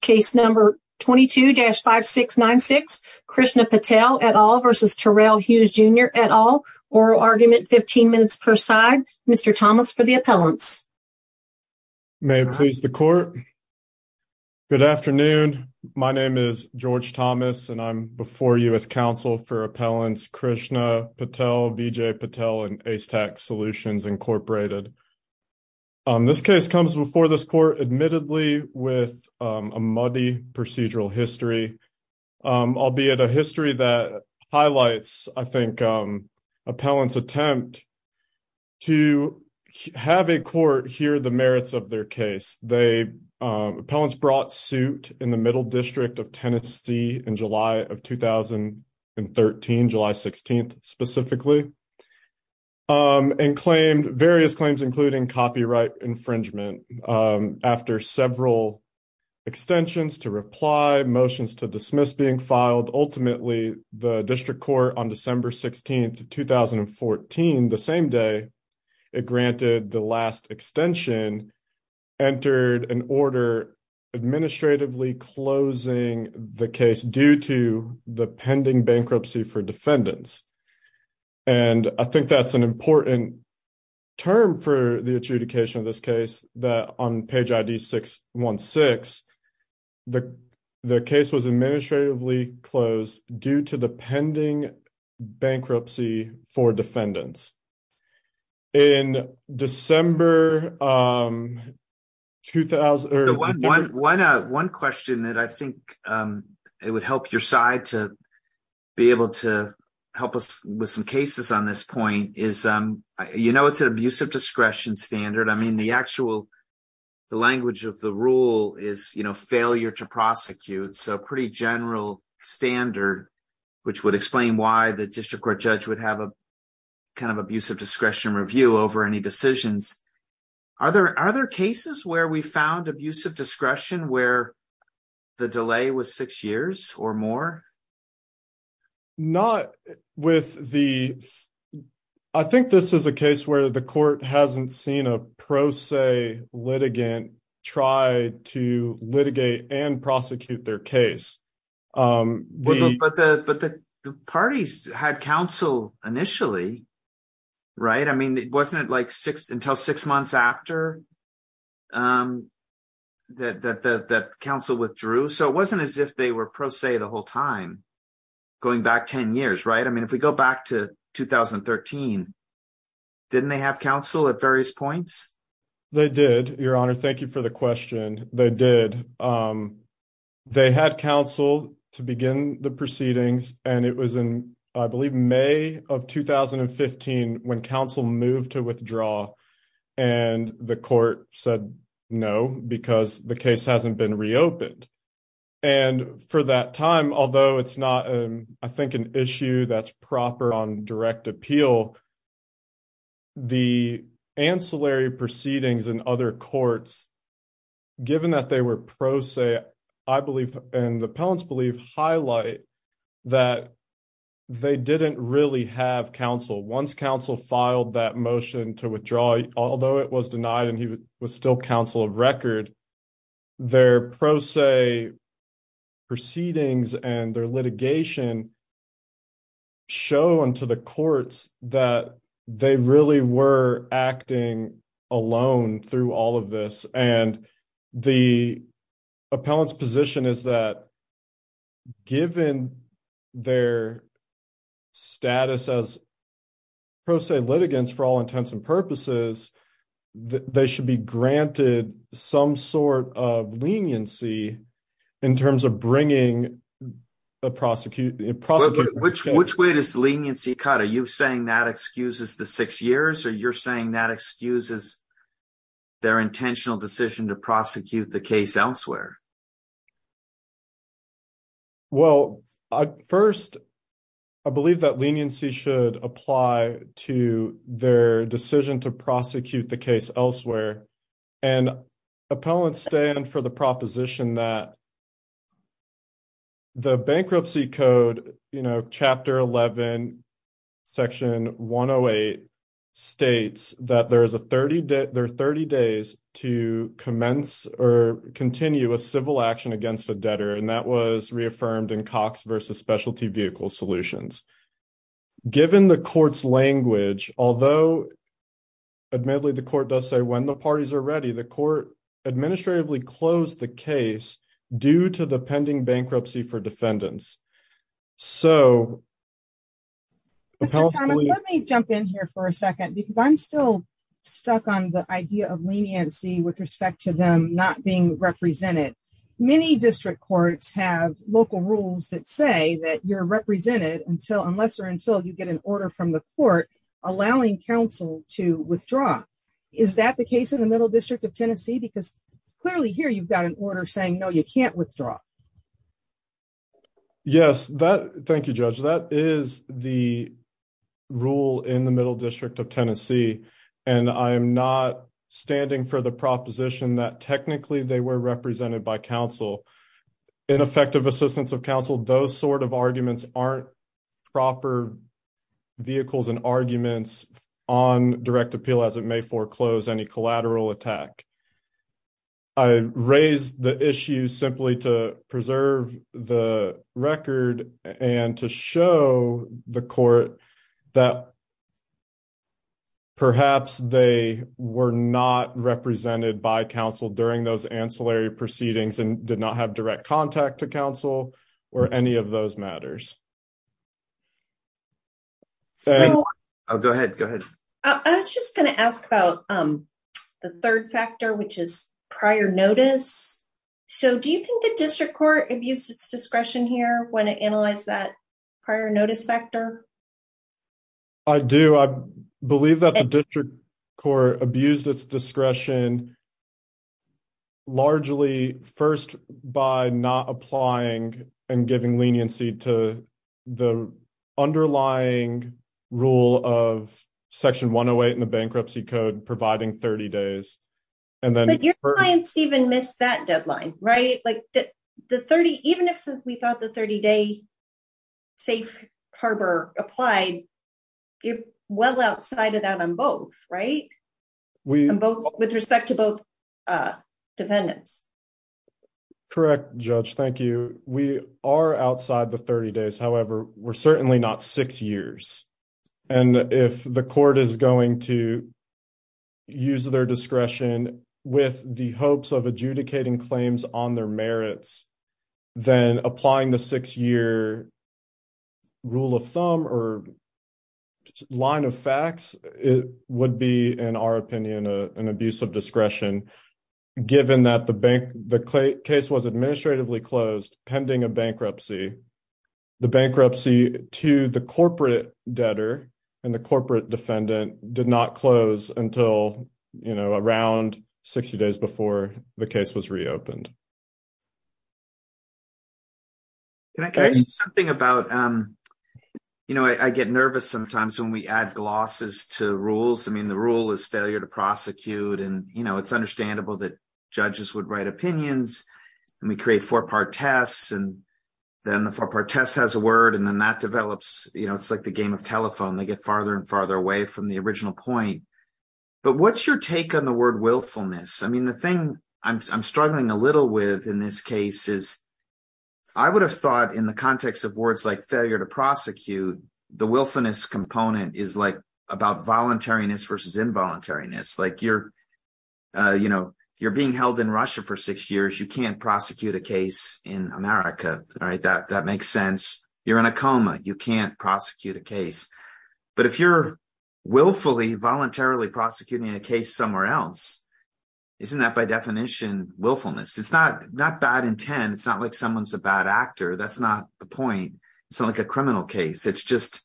case number 22-5696 Krishna Patel et al. versus Terrell Hughes Jr. et al. Oral argument 15 minutes per side. Mr. Thomas for the appellants. May it please the court. Good afternoon. My name is George Thomas and I'm before you as counsel for appellants Krishna Patel, Vijay Patel, and Ace Tax Solutions Incorporated. Um, this case comes before this court admittedly with a muddy procedural history, albeit a history that highlights, I think, appellants attempt to have a court hear the merits of their case. They, appellants brought suit in the middle district of Tennessee in July of 2013, July 16th, specifically, and claimed various claims, including copyright infringement after several extensions to reply motions to dismiss being filed. Ultimately, the district court on December 16th, 2014, the same day it granted the last extension, entered an order administratively closing the case due to the pending bankruptcy for defendants. And I think that's an important term for the adjudication of this case that on page ID 616, the case was administratively closed due to the pending bankruptcy for defendants. In December, um, 2000, one, one, uh, one question that I think, um, it would help your side to be able to help us with some cases on this point is, um, you know, it's an abusive discretion standard. I mean, the actual, the language of the rule is, you know, failure to prosecute. So pretty general standard, which would explain why the district court judge would have a kind of abusive discretion review over any decisions. Are there, are there cases where we found abusive discretion where the delay was six years or more? Not with the, I think this is a case where the court hasn't seen a pro se litigant try to litigate and prosecute their case. Um, but the, but the parties had counsel initially, right. I mean, it wasn't like six until six months after, um, that, that, that, that counsel withdrew. So it wasn't as if they were pro se the whole time going back 10 years. Right. I mean, if we go back to 2013, didn't they have counsel at various points? They did your honor. Thank you for the question. They did. Um, they had counsel to begin the proceedings and it was in, I believe, May of 2015 when counsel moved to withdraw and the court said no, because the case hasn't been reopened. And for that time, although it's not, um, I think an issue that's proper on direct appeal, the ancillary proceedings and other courts, given that they were pro se, I believe, and the appellants believe highlight that they didn't really have counsel. Once counsel filed that motion to withdraw, although it was denied and he was still counsel of record, their pro se proceedings and their litigation show unto the courts that they really were acting alone through all of this. And the appellants position is that given their status as pro se litigants for all intents and purposes, they should be granted some sort of leniency in terms of bringing the prosecution. Which way does leniency cut? Are you saying that excuses the six years or you're saying that excuses their intentional decision to prosecute the case elsewhere? Well, first, I believe that leniency should apply to their decision to prosecute the case elsewhere. And appellants stand for the proposition that the bankruptcy code, you know, chapter 11, section 108 states that there are 30 days to commence or continue a civil action against a debtor. And that was reaffirmed in Cox versus specialty vehicle solutions. Given the court's language, although admittedly the court does say when the parties are ready, the court administratively closed the case due to the pending bankruptcy for defendants. So let me jump in here for a second, because I'm still stuck on the idea of leniency with respect to them not being represented. Many district courts have local rules that say that you're represented until unless or until you get an order from the court, allowing counsel to withdraw. Is that the case in the Middle District of Tennessee? Because clearly here you've got an order saying no, you can't withdraw. Yes, that, thank you, Judge. That is the rule in the Middle District of Tennessee. And I'm not standing for the proposition that technically they were represented by counsel. In effective assistance of counsel, those sort of arguments aren't proper vehicles and arguments on direct appeal as it may foreclose any collateral attack. I raised the issue simply to preserve the record and to show the court that perhaps they were not represented by counsel during those ancillary proceedings and did not have direct contact to counsel or any of those matters. I was just going to ask about the third factor, which is prior notice. So do you think the district court abused its discretion here when it analyzed that prior notice factor? I do. I believe that the district court abused its discretion largely first by not applying and giving leniency to the underlying rule of section 108 in the bankruptcy code providing 30 days. But your clients even missed that deadline, right? Even if we thought the 30-day safe harbor applied, you're well outside of that on both, right? With respect to both defendants. Correct, Judge. Thank you. We are outside the 30 days. However, we're certainly not six years. And if the court is going to use their discretion with the hopes of adjudicating claims on their merits, then applying the six-year rule of thumb or line of facts would be, in our opinion, an abuse of discretion, given that the case was administratively closed pending a bankruptcy. The bankruptcy to the corporate debtor and the corporate defendant did not close until around 60 days before the case was reopened. I get nervous sometimes when we add glosses to rules. I mean, the rule is failure to prosecute, and it's understandable that judges would write opinions, and we create four-part tests, and then the four-part test has a word, and then that develops. It's like the game of telephone. They get farther and farther away from the original point. But what's your take on the word willfulness? I mean, the thing I'm struggling a little with in this case is I would have thought in the context of words like failure to prosecute, the willfulness component is about voluntariness versus involuntariness. Like you're being held in Russia for six years. You can't prosecute a case in America, right? That makes sense. You're in a coma. You can't prosecute a case. But if you're willfully, voluntarily prosecuting a case somewhere else, isn't that by definition willfulness? It's not bad intent. It's not like someone's a bad actor. That's not the point. It's not like a criminal case. It's just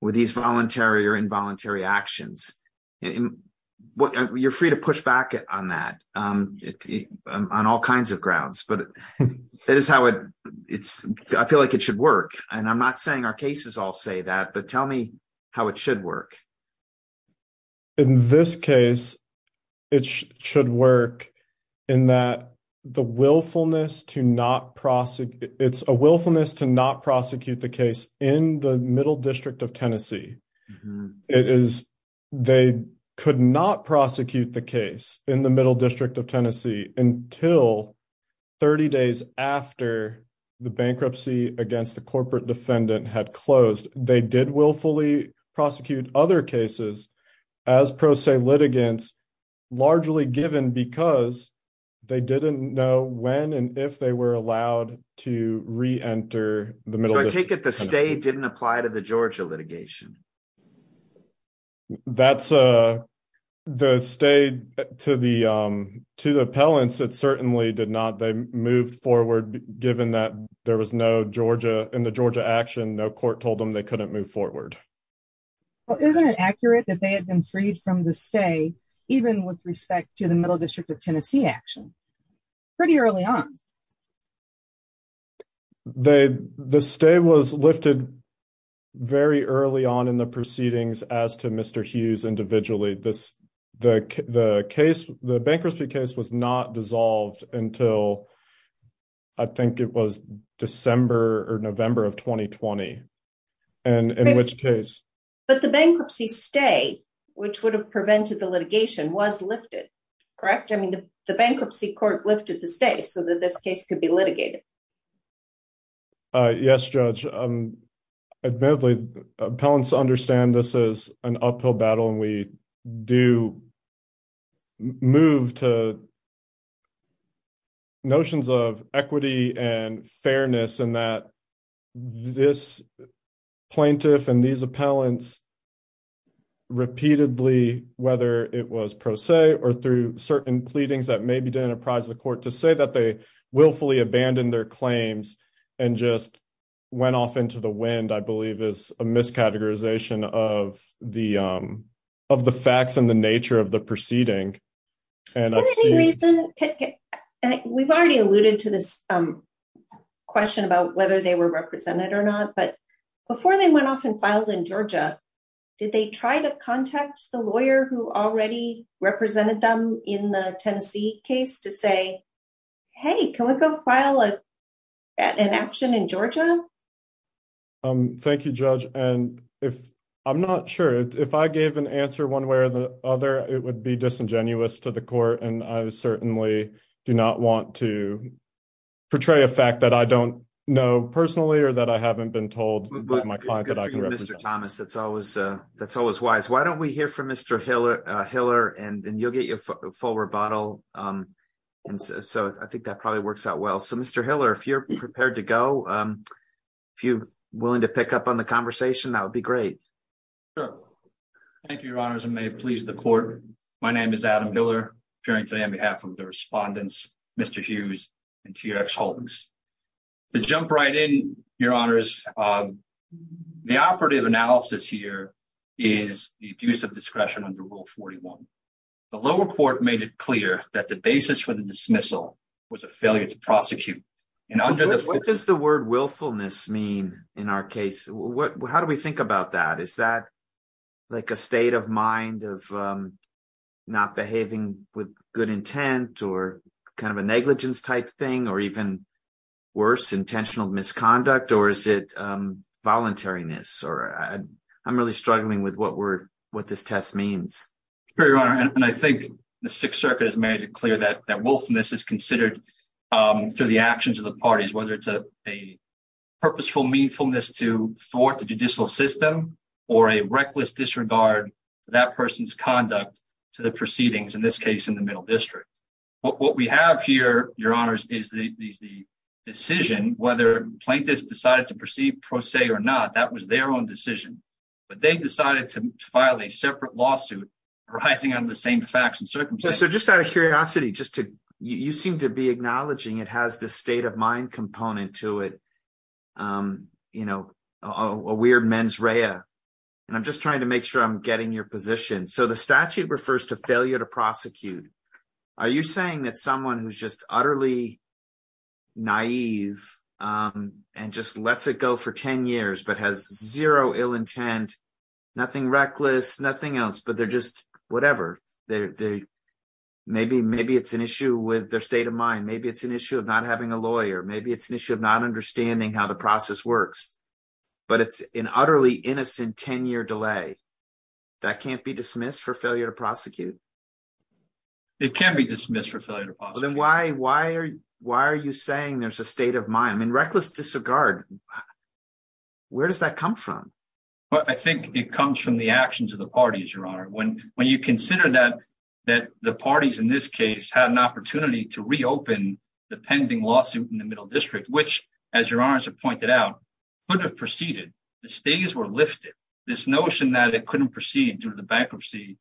with these voluntary or involuntary actions. You're free to push back on that on all kinds of grounds. I feel like it should work. And I'm not saying our cases all say that, but tell me how it should work. In this case, it should work in that it's a willfulness to not prosecute the case in the Middle District of Tennessee. They could not prosecute the case in the Middle District 30 days after the bankruptcy against the corporate defendant had closed. They did willfully prosecute other cases as pro se litigants, largely given because they didn't know when and if they were allowed to re-enter the Middle District. So I take it the stay didn't apply to the Georgia litigation. That's the stay to the appellants. It certainly did not. They moved forward given that there was no Georgia in the Georgia action. No court told them they couldn't move forward. Well, isn't it accurate that they had been freed from the stay, even with respect to the Middle District of Tennessee action, pretty early on? No. The stay was lifted very early on in the proceedings as to Mr. Hughes individually. The bankruptcy case was not dissolved until I think it was December or November of 2020, and in which case? But the bankruptcy stay, which would have prevented the litigation, was lifted, correct? I mean, the bankruptcy court lifted the stay, so that this case could be litigated. Yes, Judge. Admittedly, appellants understand this is an uphill battle, and we do move to notions of equity and fairness in that this plaintiff and these appellants repeatedly, whether it was pro se or through certain pleadings that maybe didn't apprise the court, to say that they willfully abandoned their claims and just went off into the wind, I believe, is a miscategorization of the facts and the nature of the proceeding. We've already alluded to this question about whether they were represented or not, but before they went off and filed in Georgia, did they try to contact the lawyer who already represented them in the Tennessee case to say, hey, can we go file an action in Georgia? Thank you, Judge. I'm not sure. If I gave an answer one way or the other, it would be disingenuous to the court, and I certainly do not want to portray a fact that I don't know personally or that I haven't been told by my client that I can represent. Mr. Thomas, that's always wise. Why don't we hear from Mr. Hiller, and you'll get your full rebuttal. I think that probably works out well. Mr. Hiller, if you're prepared to go, if you're willing to pick up on the conversation, that would be great. Sure. Thank you, Your Honors, and may it please the court. My name is Adam Hiller, appearing today on behalf of the respondents, Mr. Hughes and T. Rex Hultins. To jump right in, Your Honors, the operative analysis here is the abuse of discretion under Rule 41. The lower court made it clear that the basis for the dismissal was a failure to prosecute. What does the word willfulness mean in our case? How do we think about that? Is that like a state of mind of not behaving with good intent or kind of a negligence-type thing or even worse, intentional misconduct, or is it voluntariness? I'm really struggling with what this test means. I think the Sixth Circuit has made it clear that willfulness is considered through the actions of the parties, whether it's a purposeful meanfulness to thwart the judicial system or a reckless disregard for that person's conduct to the proceedings, in this case, in the Middle District. What we have here, Your Honors, is the decision whether plaintiffs decided to proceed pro se or not. That was their own decision, but they decided to file a separate lawsuit arising out of the same facts and circumstances. Just out of curiosity, you seem to be acknowledging it has this state of mind component to it, you know, a weird mens rea. I'm just trying to make sure I'm getting your position. The statute refers to failure to prosecute. Are you saying that someone who's just utterly naive and just lets it go for 10 years but has zero ill intent, nothing reckless, nothing else, but they're just whatever? Maybe it's an issue with their state of mind. Maybe it's an issue of not having a lawyer. Maybe it's an issue of not understanding how the process works, but it's an utterly innocent 10-year delay. That can't be dismissed for failure to prosecute? It can't be dismissed for failure to prosecute. Then why are you saying there's a state of mind? I mean, reckless disregard, where does that come from? Well, I think it comes from the actions of the parties, Your Honor. When you consider that the parties in this case had an opportunity to reopen the pending lawsuit in the Middle District, which, as Your Honor has pointed out, could have proceeded. The stays were lifted. This notion that it couldn't proceed due to the bankruptcy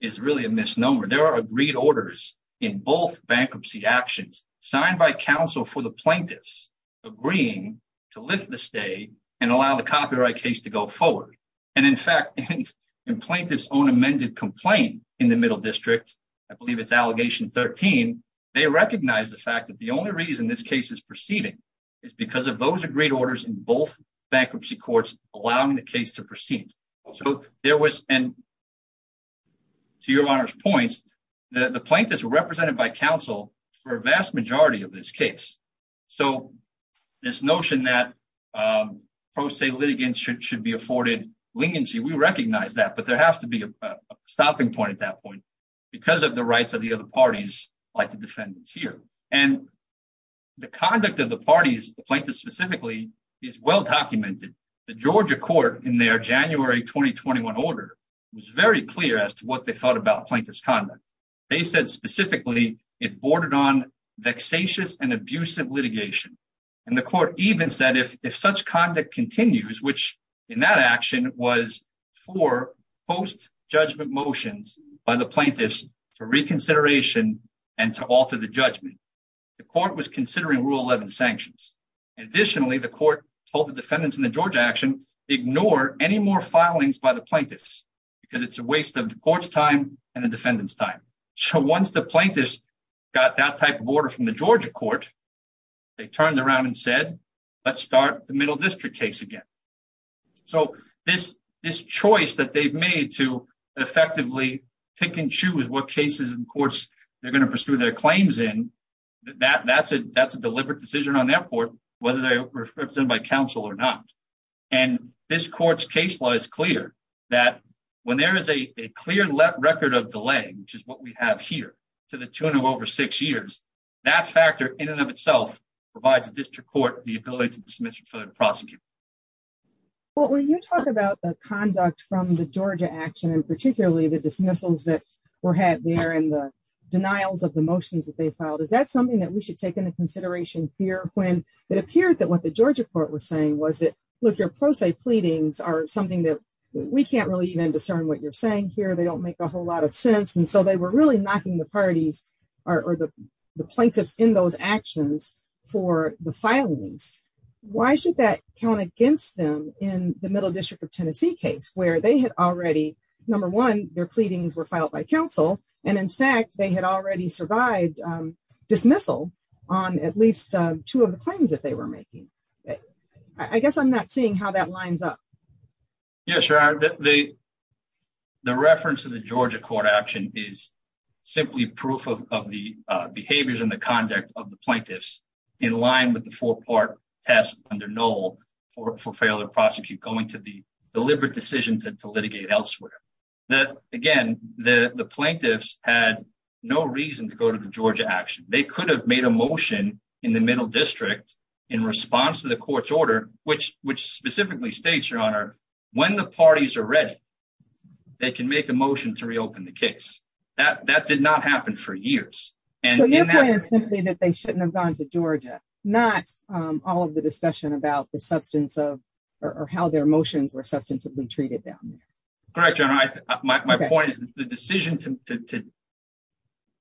is really a misnomer. There are agreed orders in both bankruptcy actions signed by counsel for the plaintiffs agreeing to lift the stay and allow the copyright case to go forward. In fact, in plaintiff's own amended complaint in the Middle District, I believe it's Allegation 13, they recognize the fact that the only reason this case is proceeding is because of those agreed orders in both bankruptcy courts allowing the case to proceed. To Your Honor's points, the plaintiffs were represented by counsel for a vast majority of this case. This notion that pro se litigants should be afforded leniency, we recognize that, but there has to be a stopping point at that point because of the parties like the defendants here. The conduct of the parties, the plaintiffs specifically, is well documented. The Georgia court in their January 2021 order was very clear as to what they thought about plaintiff's conduct. They said specifically it bordered on vexatious and abusive litigation. The court even said if such conduct continues, which in that action was for post for reconsideration and to alter the judgment. The court was considering Rule 11 sanctions. Additionally, the court told the defendants in the Georgia action ignore any more filings by the plaintiffs because it's a waste of the court's time and the defendant's time. So once the plaintiffs got that type of order from the Georgia court, they turned around and said let's start the Middle District case again. So this choice that they've made to effectively pick and choose what cases and courts they're going to pursue their claims in, that's a deliberate decision on their part, whether they're represented by counsel or not. And this court's case law is clear that when there is a clear record of delay, which is what we have here, to the tune of over six years, that factor in and of itself provides the District Court the ability to dismiss or further prosecute. Well, when you talk about the conduct from the Georgia action and particularly the dismissals that were had there and the denials of the motions that they filed, is that something that we should take into consideration here when it appeared that what the Georgia court was saying was that, look, your pro se pleadings are something that we can't really even discern what you're saying here. They don't make a whole lot of sense. And so they were really knocking the parties or the plaintiffs in those actions for the filings. Why should that count against them in the Middle Their pleadings were filed by counsel. And in fact, they had already survived dismissal on at least two of the claims that they were making. I guess I'm not seeing how that lines up. Yes. The reference to the Georgia court action is simply proof of the behaviors and the conduct of the plaintiffs in line with the four part test under Noel for failure to prosecute going to the deliberate decision to litigate elsewhere. That again, the plaintiffs had no reason to go to the Georgia action. They could have made a motion in the middle district in response to the court's order, which specifically states your honor, when the parties are ready, they can make a motion to reopen the case. That did not happen for years. And your point is simply that they shouldn't have gone to Georgia, not all of the discussion about the substance of or how their motions were treated down there. Correct. My point is the decision to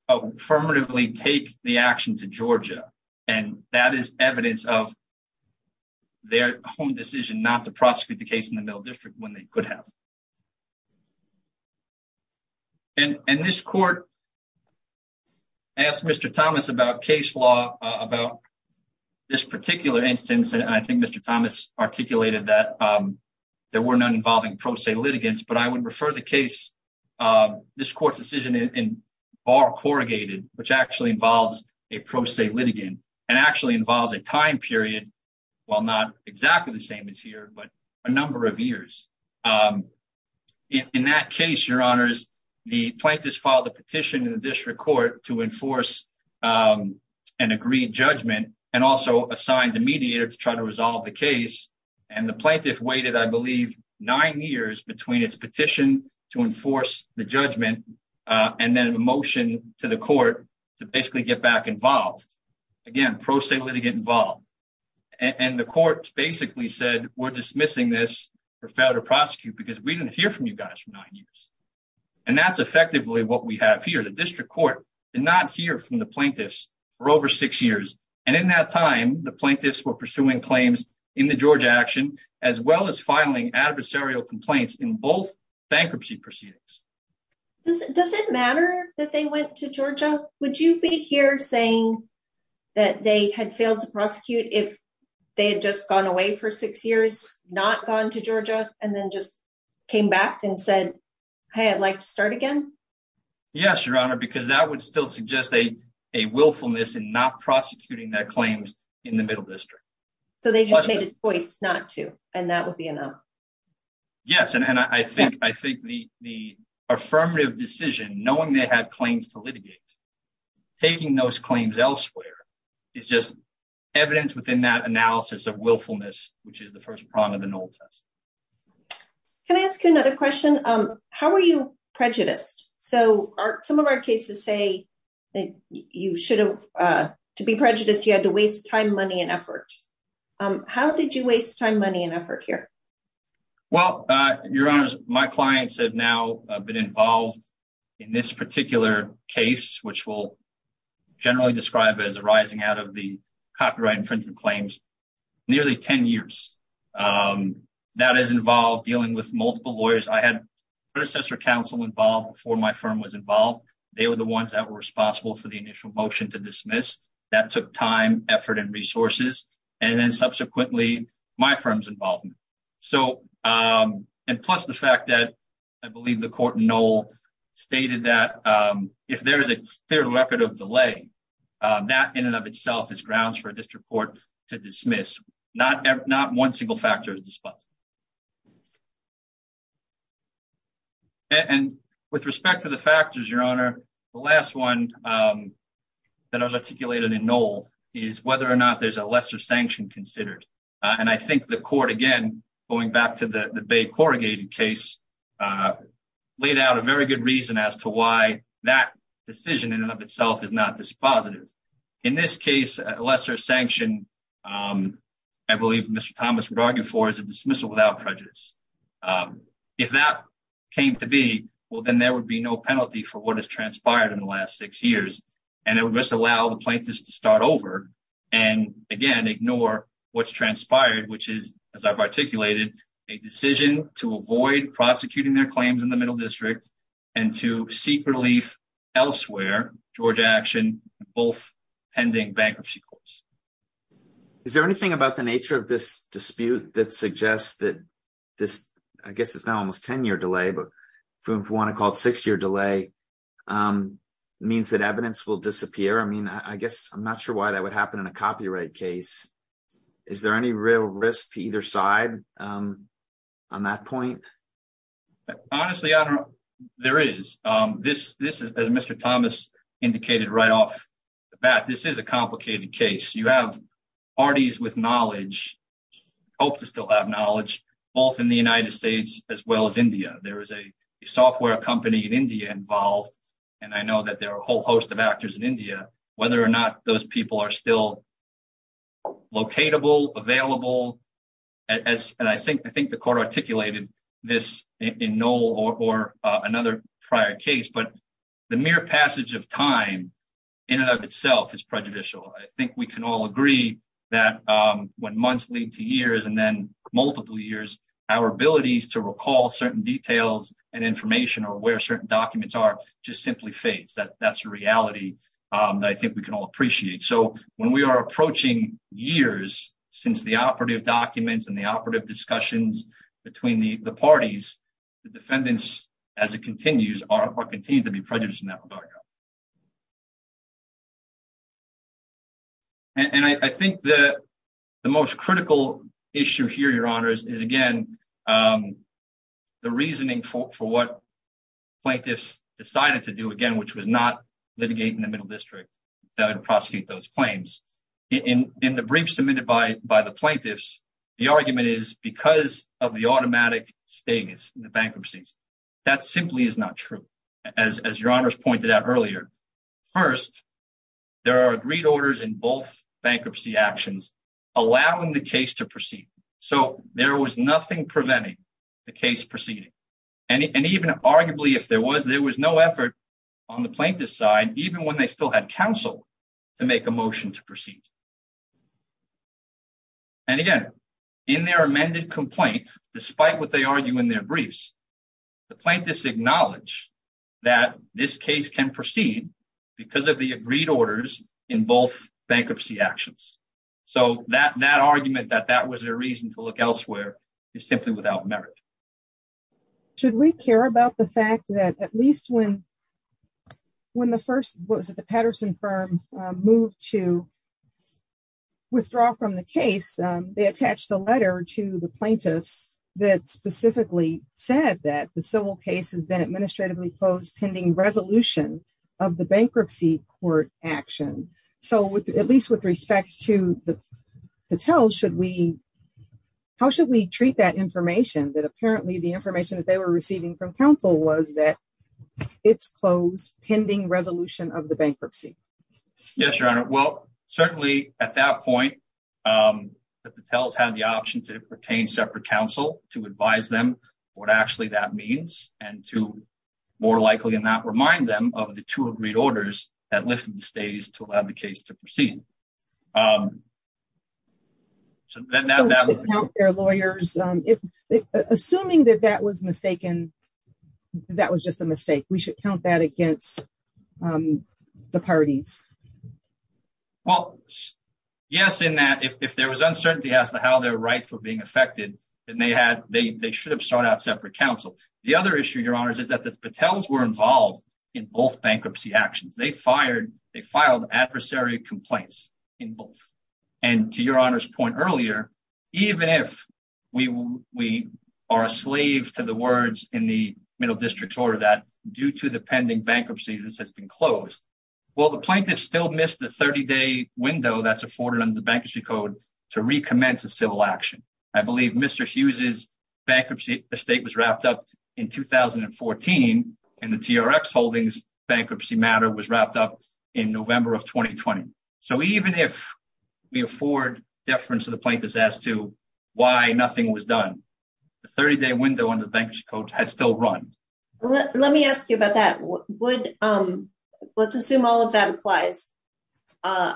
affirmatively take the action to Georgia. And that is evidence of their decision not to prosecute the case in the middle district when they could have. And this court asked Mr. Thomas about case law about this particular instance. And I think Mr. Thomas articulated that, um, there were none involving pro se litigants, but I would refer the case, um, this court's decision in bar corrugated, which actually involves a pro se litigant and actually involves a time period while not exactly the same as here, but a number of years. Um, in that case, your honors, the plaintiffs filed a petition in the resolve the case. And the plaintiff waited, I believe, nine years between its petition to enforce the judgment, uh, and then a motion to the court to basically get back involved again, pro se litigant involved. And the court basically said, we're dismissing this for failure to prosecute because we didn't hear from you guys for nine years. And that's effectively what we have here. The district court did not hear from the plaintiffs for over six years. And in that time, the plaintiffs were pursuing claims in the Georgia action, as well as filing adversarial complaints in both bankruptcy proceedings. Does it matter that they went to Georgia? Would you be here saying that they had failed to prosecute if they had just gone away for six years, not gone to Georgia and then just came back and said, Hey, I'd like to start again. Yes, your honor, because that would still suggest a, a willfulness and not prosecuting that claim in the middle district. So they just made his voice not to, and that would be enough. Yes. And I think, I think the, the affirmative decision, knowing they had claims to litigate, taking those claims elsewhere is just evidence within that analysis of willfulness, which is the first prong of the knoll test. Can I ask you another question? Um, how were you to waste time, money and effort? Um, how did you waste time, money and effort here? Well, uh, your honors, my clients have now been involved in this particular case, which will generally describe as a rising out of the copyright infringement claims, nearly 10 years. Um, that is involved dealing with multiple lawyers. I had predecessor counsel involved before my firm was involved. They were the ones that were motion to dismiss that took time, effort and resources. And then subsequently my firm's involvement. So, um, and plus the fact that I believe the court knoll stated that, um, if there is a fair record of delay, um, that in and of itself is grounds for a district court to dismiss, not, not one single factor is disposed. And with respect to the factors, your honor, the last one, um, that I was articulated in knoll is whether or not there's a lesser sanction considered. Uh, and I think the court again, going back to the bay corrugated case, uh, laid out a very good reason as to why that decision in and of itself is not dispositive. In this case, lesser sanction. Um, I believe Mr thomas would without prejudice. Um, if that came to be, well then there would be no penalty for what has transpired in the last six years and it would just allow the plaintiffs to start over and again, ignore what's transpired, which is, as I've articulated a decision to avoid prosecuting their claims in the middle district and to seek relief elsewhere. George action, both pending bankruptcy courts. Is there anything about the nature of this dispute that suggests that this, I guess it's not almost 10 year delay, but if you want to call it six year delay, um, means that evidence will disappear. I mean, I guess I'm not sure why that would happen in a copyright case. Is there any real risk to either side? Um, on that point, honestly, there is, um, this, this is, as Mr thomas indicated right off the bat, this is a complicated case. You have parties with knowledge, hope to still have knowledge both in the United States as well as India. There is a software company in India involved and I know that there are a whole host of actors in India, whether or not those people are still locatable, available as I think, I think the court articulated this in no or another prior case. But the mere passage of time in and of itself is prejudicial. I think we can all agree that when months lead to years and then multiple years, our abilities to recall certain details and information or where certain documents are just simply face that. That's a reality that I think we can all appreciate. So when we are approaching years since the operative documents and the operative discussions between the parties, the defendants, as it continues, are continued to be prejudiced in that regard. And I think that the most critical issue here, your honors, is again, um, the reasoning for, for what plaintiffs decided to do again, which was not litigating the middle district that would by the plaintiffs. The argument is because of the automatic status in the bankruptcies, that simply is not true. As, as your honors pointed out earlier, first, there are agreed orders in both bankruptcy actions, allowing the case to proceed. So there was nothing preventing the case proceeding. And even arguably, if there was, there was no effort on the plaintiff side, even when they still had counsel to make a motion to proceed. And again, in their amended complaint, despite what they argue in their briefs, the plaintiffs acknowledge that this case can proceed because of the agreed orders in both bankruptcy actions. So that, that argument that that was their reason to look elsewhere is simply without merit. Should we care about the fact that at least when, when the first was at the Patterson firm moved to withdraw from the case, they attached a letter to the plaintiffs that specifically said that the civil case has been administratively closed, pending resolution of the bankruptcy court action. So at least with respect to the hotels, should we, how should we treat that information? That apparently the information that they were pending resolution of the bankruptcy? Yes, your honor. Well, certainly at that point, the hotels had the option to pertain separate counsel, to advise them what actually that means and to more likely than not remind them of the two agreed orders that lifted the stage to allow the case to proceed. So then their lawyers, if assuming that that was mistaken, that was just a bad against, um, the parties. Well, yes. In that, if, if there was uncertainty as to how their rights were being affected, then they had, they, they should have sought out separate counsel. The other issue your honors is that the Patels were involved in both bankruptcy actions. They fired, they filed adversary complaints in both. And to your honor's point earlier, even if we, we are a slave to the words in the middle district order that due to the pending bankruptcy, this has been closed. Well, the plaintiff still missed the 30 day window that's afforded under the bankruptcy code to recommence a civil action. I believe Mr. Hughes is bankruptcy estate was wrapped up in 2014 and the TRX holdings bankruptcy matter was wrapped up in November of 2020. So even if we afford deference to the plaintiffs as to why nothing was done, the 30 day window on the bankruptcy coach had still run. Well, let me ask you about that. What would, um, let's assume all of that applies. Uh,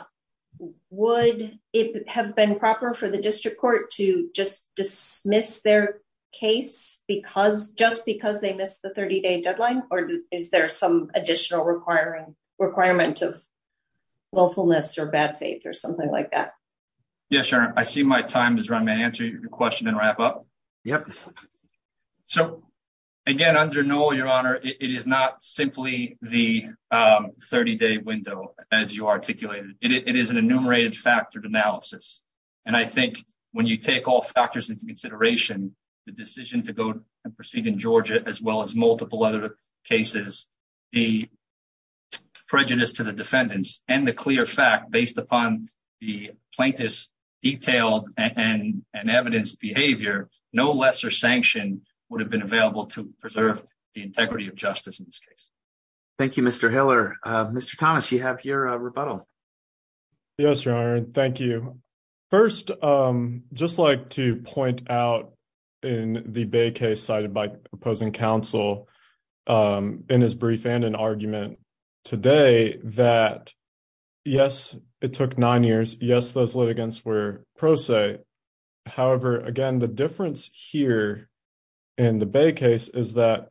would it have been proper for the district court to just dismiss their case because just because they missed the 30 day deadline or is there some additional requiring requirement of willfulness or bad faith or something like that? Yes, your honor. I see my time is run. May I answer your question and wrap up? Yep. So again, under Noel, your honor, it is not simply the, um, 30 day window as you articulated. It is an enumerated factored analysis. And I think when you take all factors into consideration, the decision to go and proceed in Georgia as well as multiple other cases, the prejudice to the defendants and the clear fact based upon the plaintiffs detailed and evidence behavior, no lesser sanction would have been available to preserve the integrity of justice in this case. Thank you, Mr. Hiller. Mr. Thomas, you have your rebuttal. Yes, your honor. Thank you. First, um, just like to point out in the Bay case cited by opposing counsel, um, in his brief and an argument today that, yes, it took nine years. Yes, those litigants were pro se. However, again, the difference here in the Bay case is that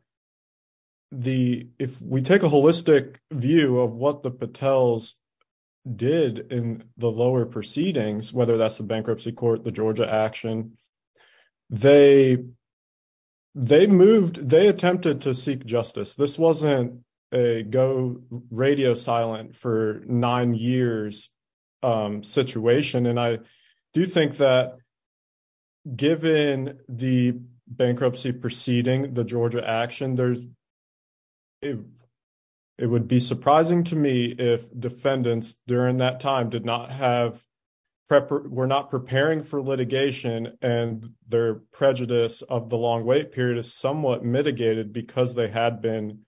the, if we take a holistic view of what the Patels did in the lower proceedings, whether that's the bankruptcy court, the Georgia action, they, they moved, they attempted to seek justice. This wasn't a go radio silent for nine years, um, situation. And I do think that given the bankruptcy proceeding, the Georgia action, there's, it, it would be surprising to me if defendants during that time did not have prep, we're not preparing for litigation and their prejudice of the long wait period is somewhat mitigated because they had been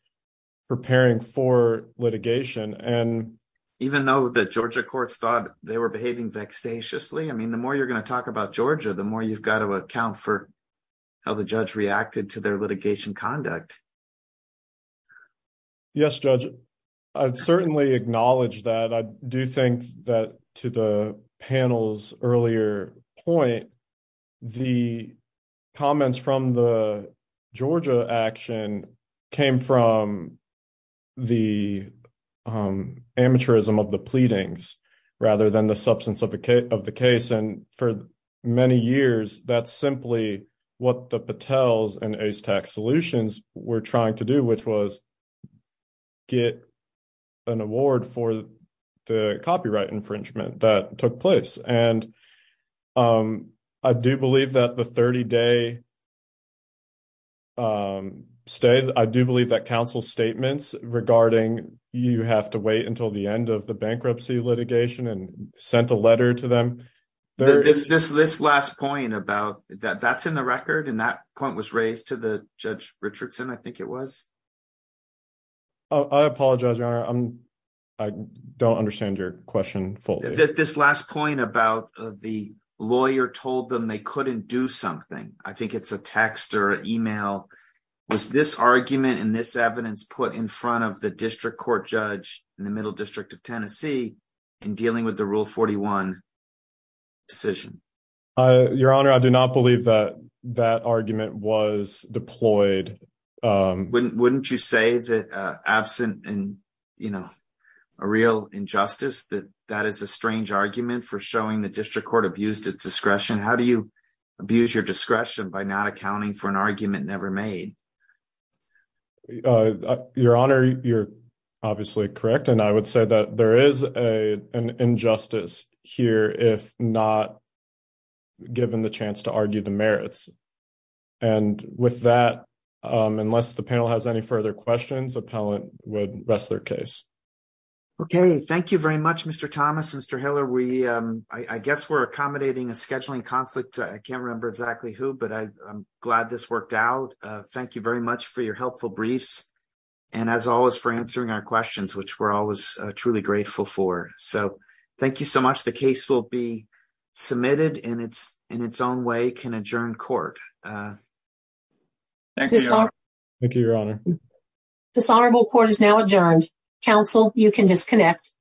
preparing for litigation. And even though the Georgia courts thought they were behaving vexatiously, I mean, the more you're going to talk about Georgia, the more you've got to account for how the judge reacted to their litigation conduct. Yes, judge. I'd certainly acknowledge that. I do think that to the panel's earlier point, the comments from the Georgia action came from the, um, amateurism of the pleadings rather than the substance of a case of the case. And for many years, that's simply what the Patels and ace tech solutions we're trying to do, which was get an award for the copyright infringement that took place. And, um, I do believe that the 30 day, um, stay, I do believe that council statements regarding you have to wait until the end of the bankruptcy litigation and sent a letter to them. This, this, this last point about that, that's in the record. And that point was raised to the judge Richardson. I think it was, Oh, I apologize. Your honor. I'm I don't understand your question. This last point about the lawyer told them they couldn't do something. I think it's a text or email was this argument in this evidence put in front of the district court judge in the middle district of Tennessee in dealing with the rule 41 decision. Uh, your honor, I do not believe that that argument was deployed. Um, wouldn't, wouldn't you say that, uh, absent and you know, a real injustice that that is a strange argument for showing the district court abused its discretion. How do you abuse your discretion by not accounting for an argument? Made your honor. You're obviously correct. And I would say that there is a, an injustice here, if not given the chance to argue the merits. And with that, um, unless the panel has any further questions, appellant would rest their case. Okay. Thank you very much, Mr. Thomas, Mr. Hiller. We, um, I guess we're accommodating a scheduling conflict. I can't remember exactly who, but I I'm glad this worked out. Uh, thank you very much for your helpful briefs and as always for answering our questions, which we're always truly grateful for. So thank you so much. The case will be submitted and it's in its own way can adjourn court. Uh, thank you. Your honor. This honorable court is now adjourned council. You can disconnect.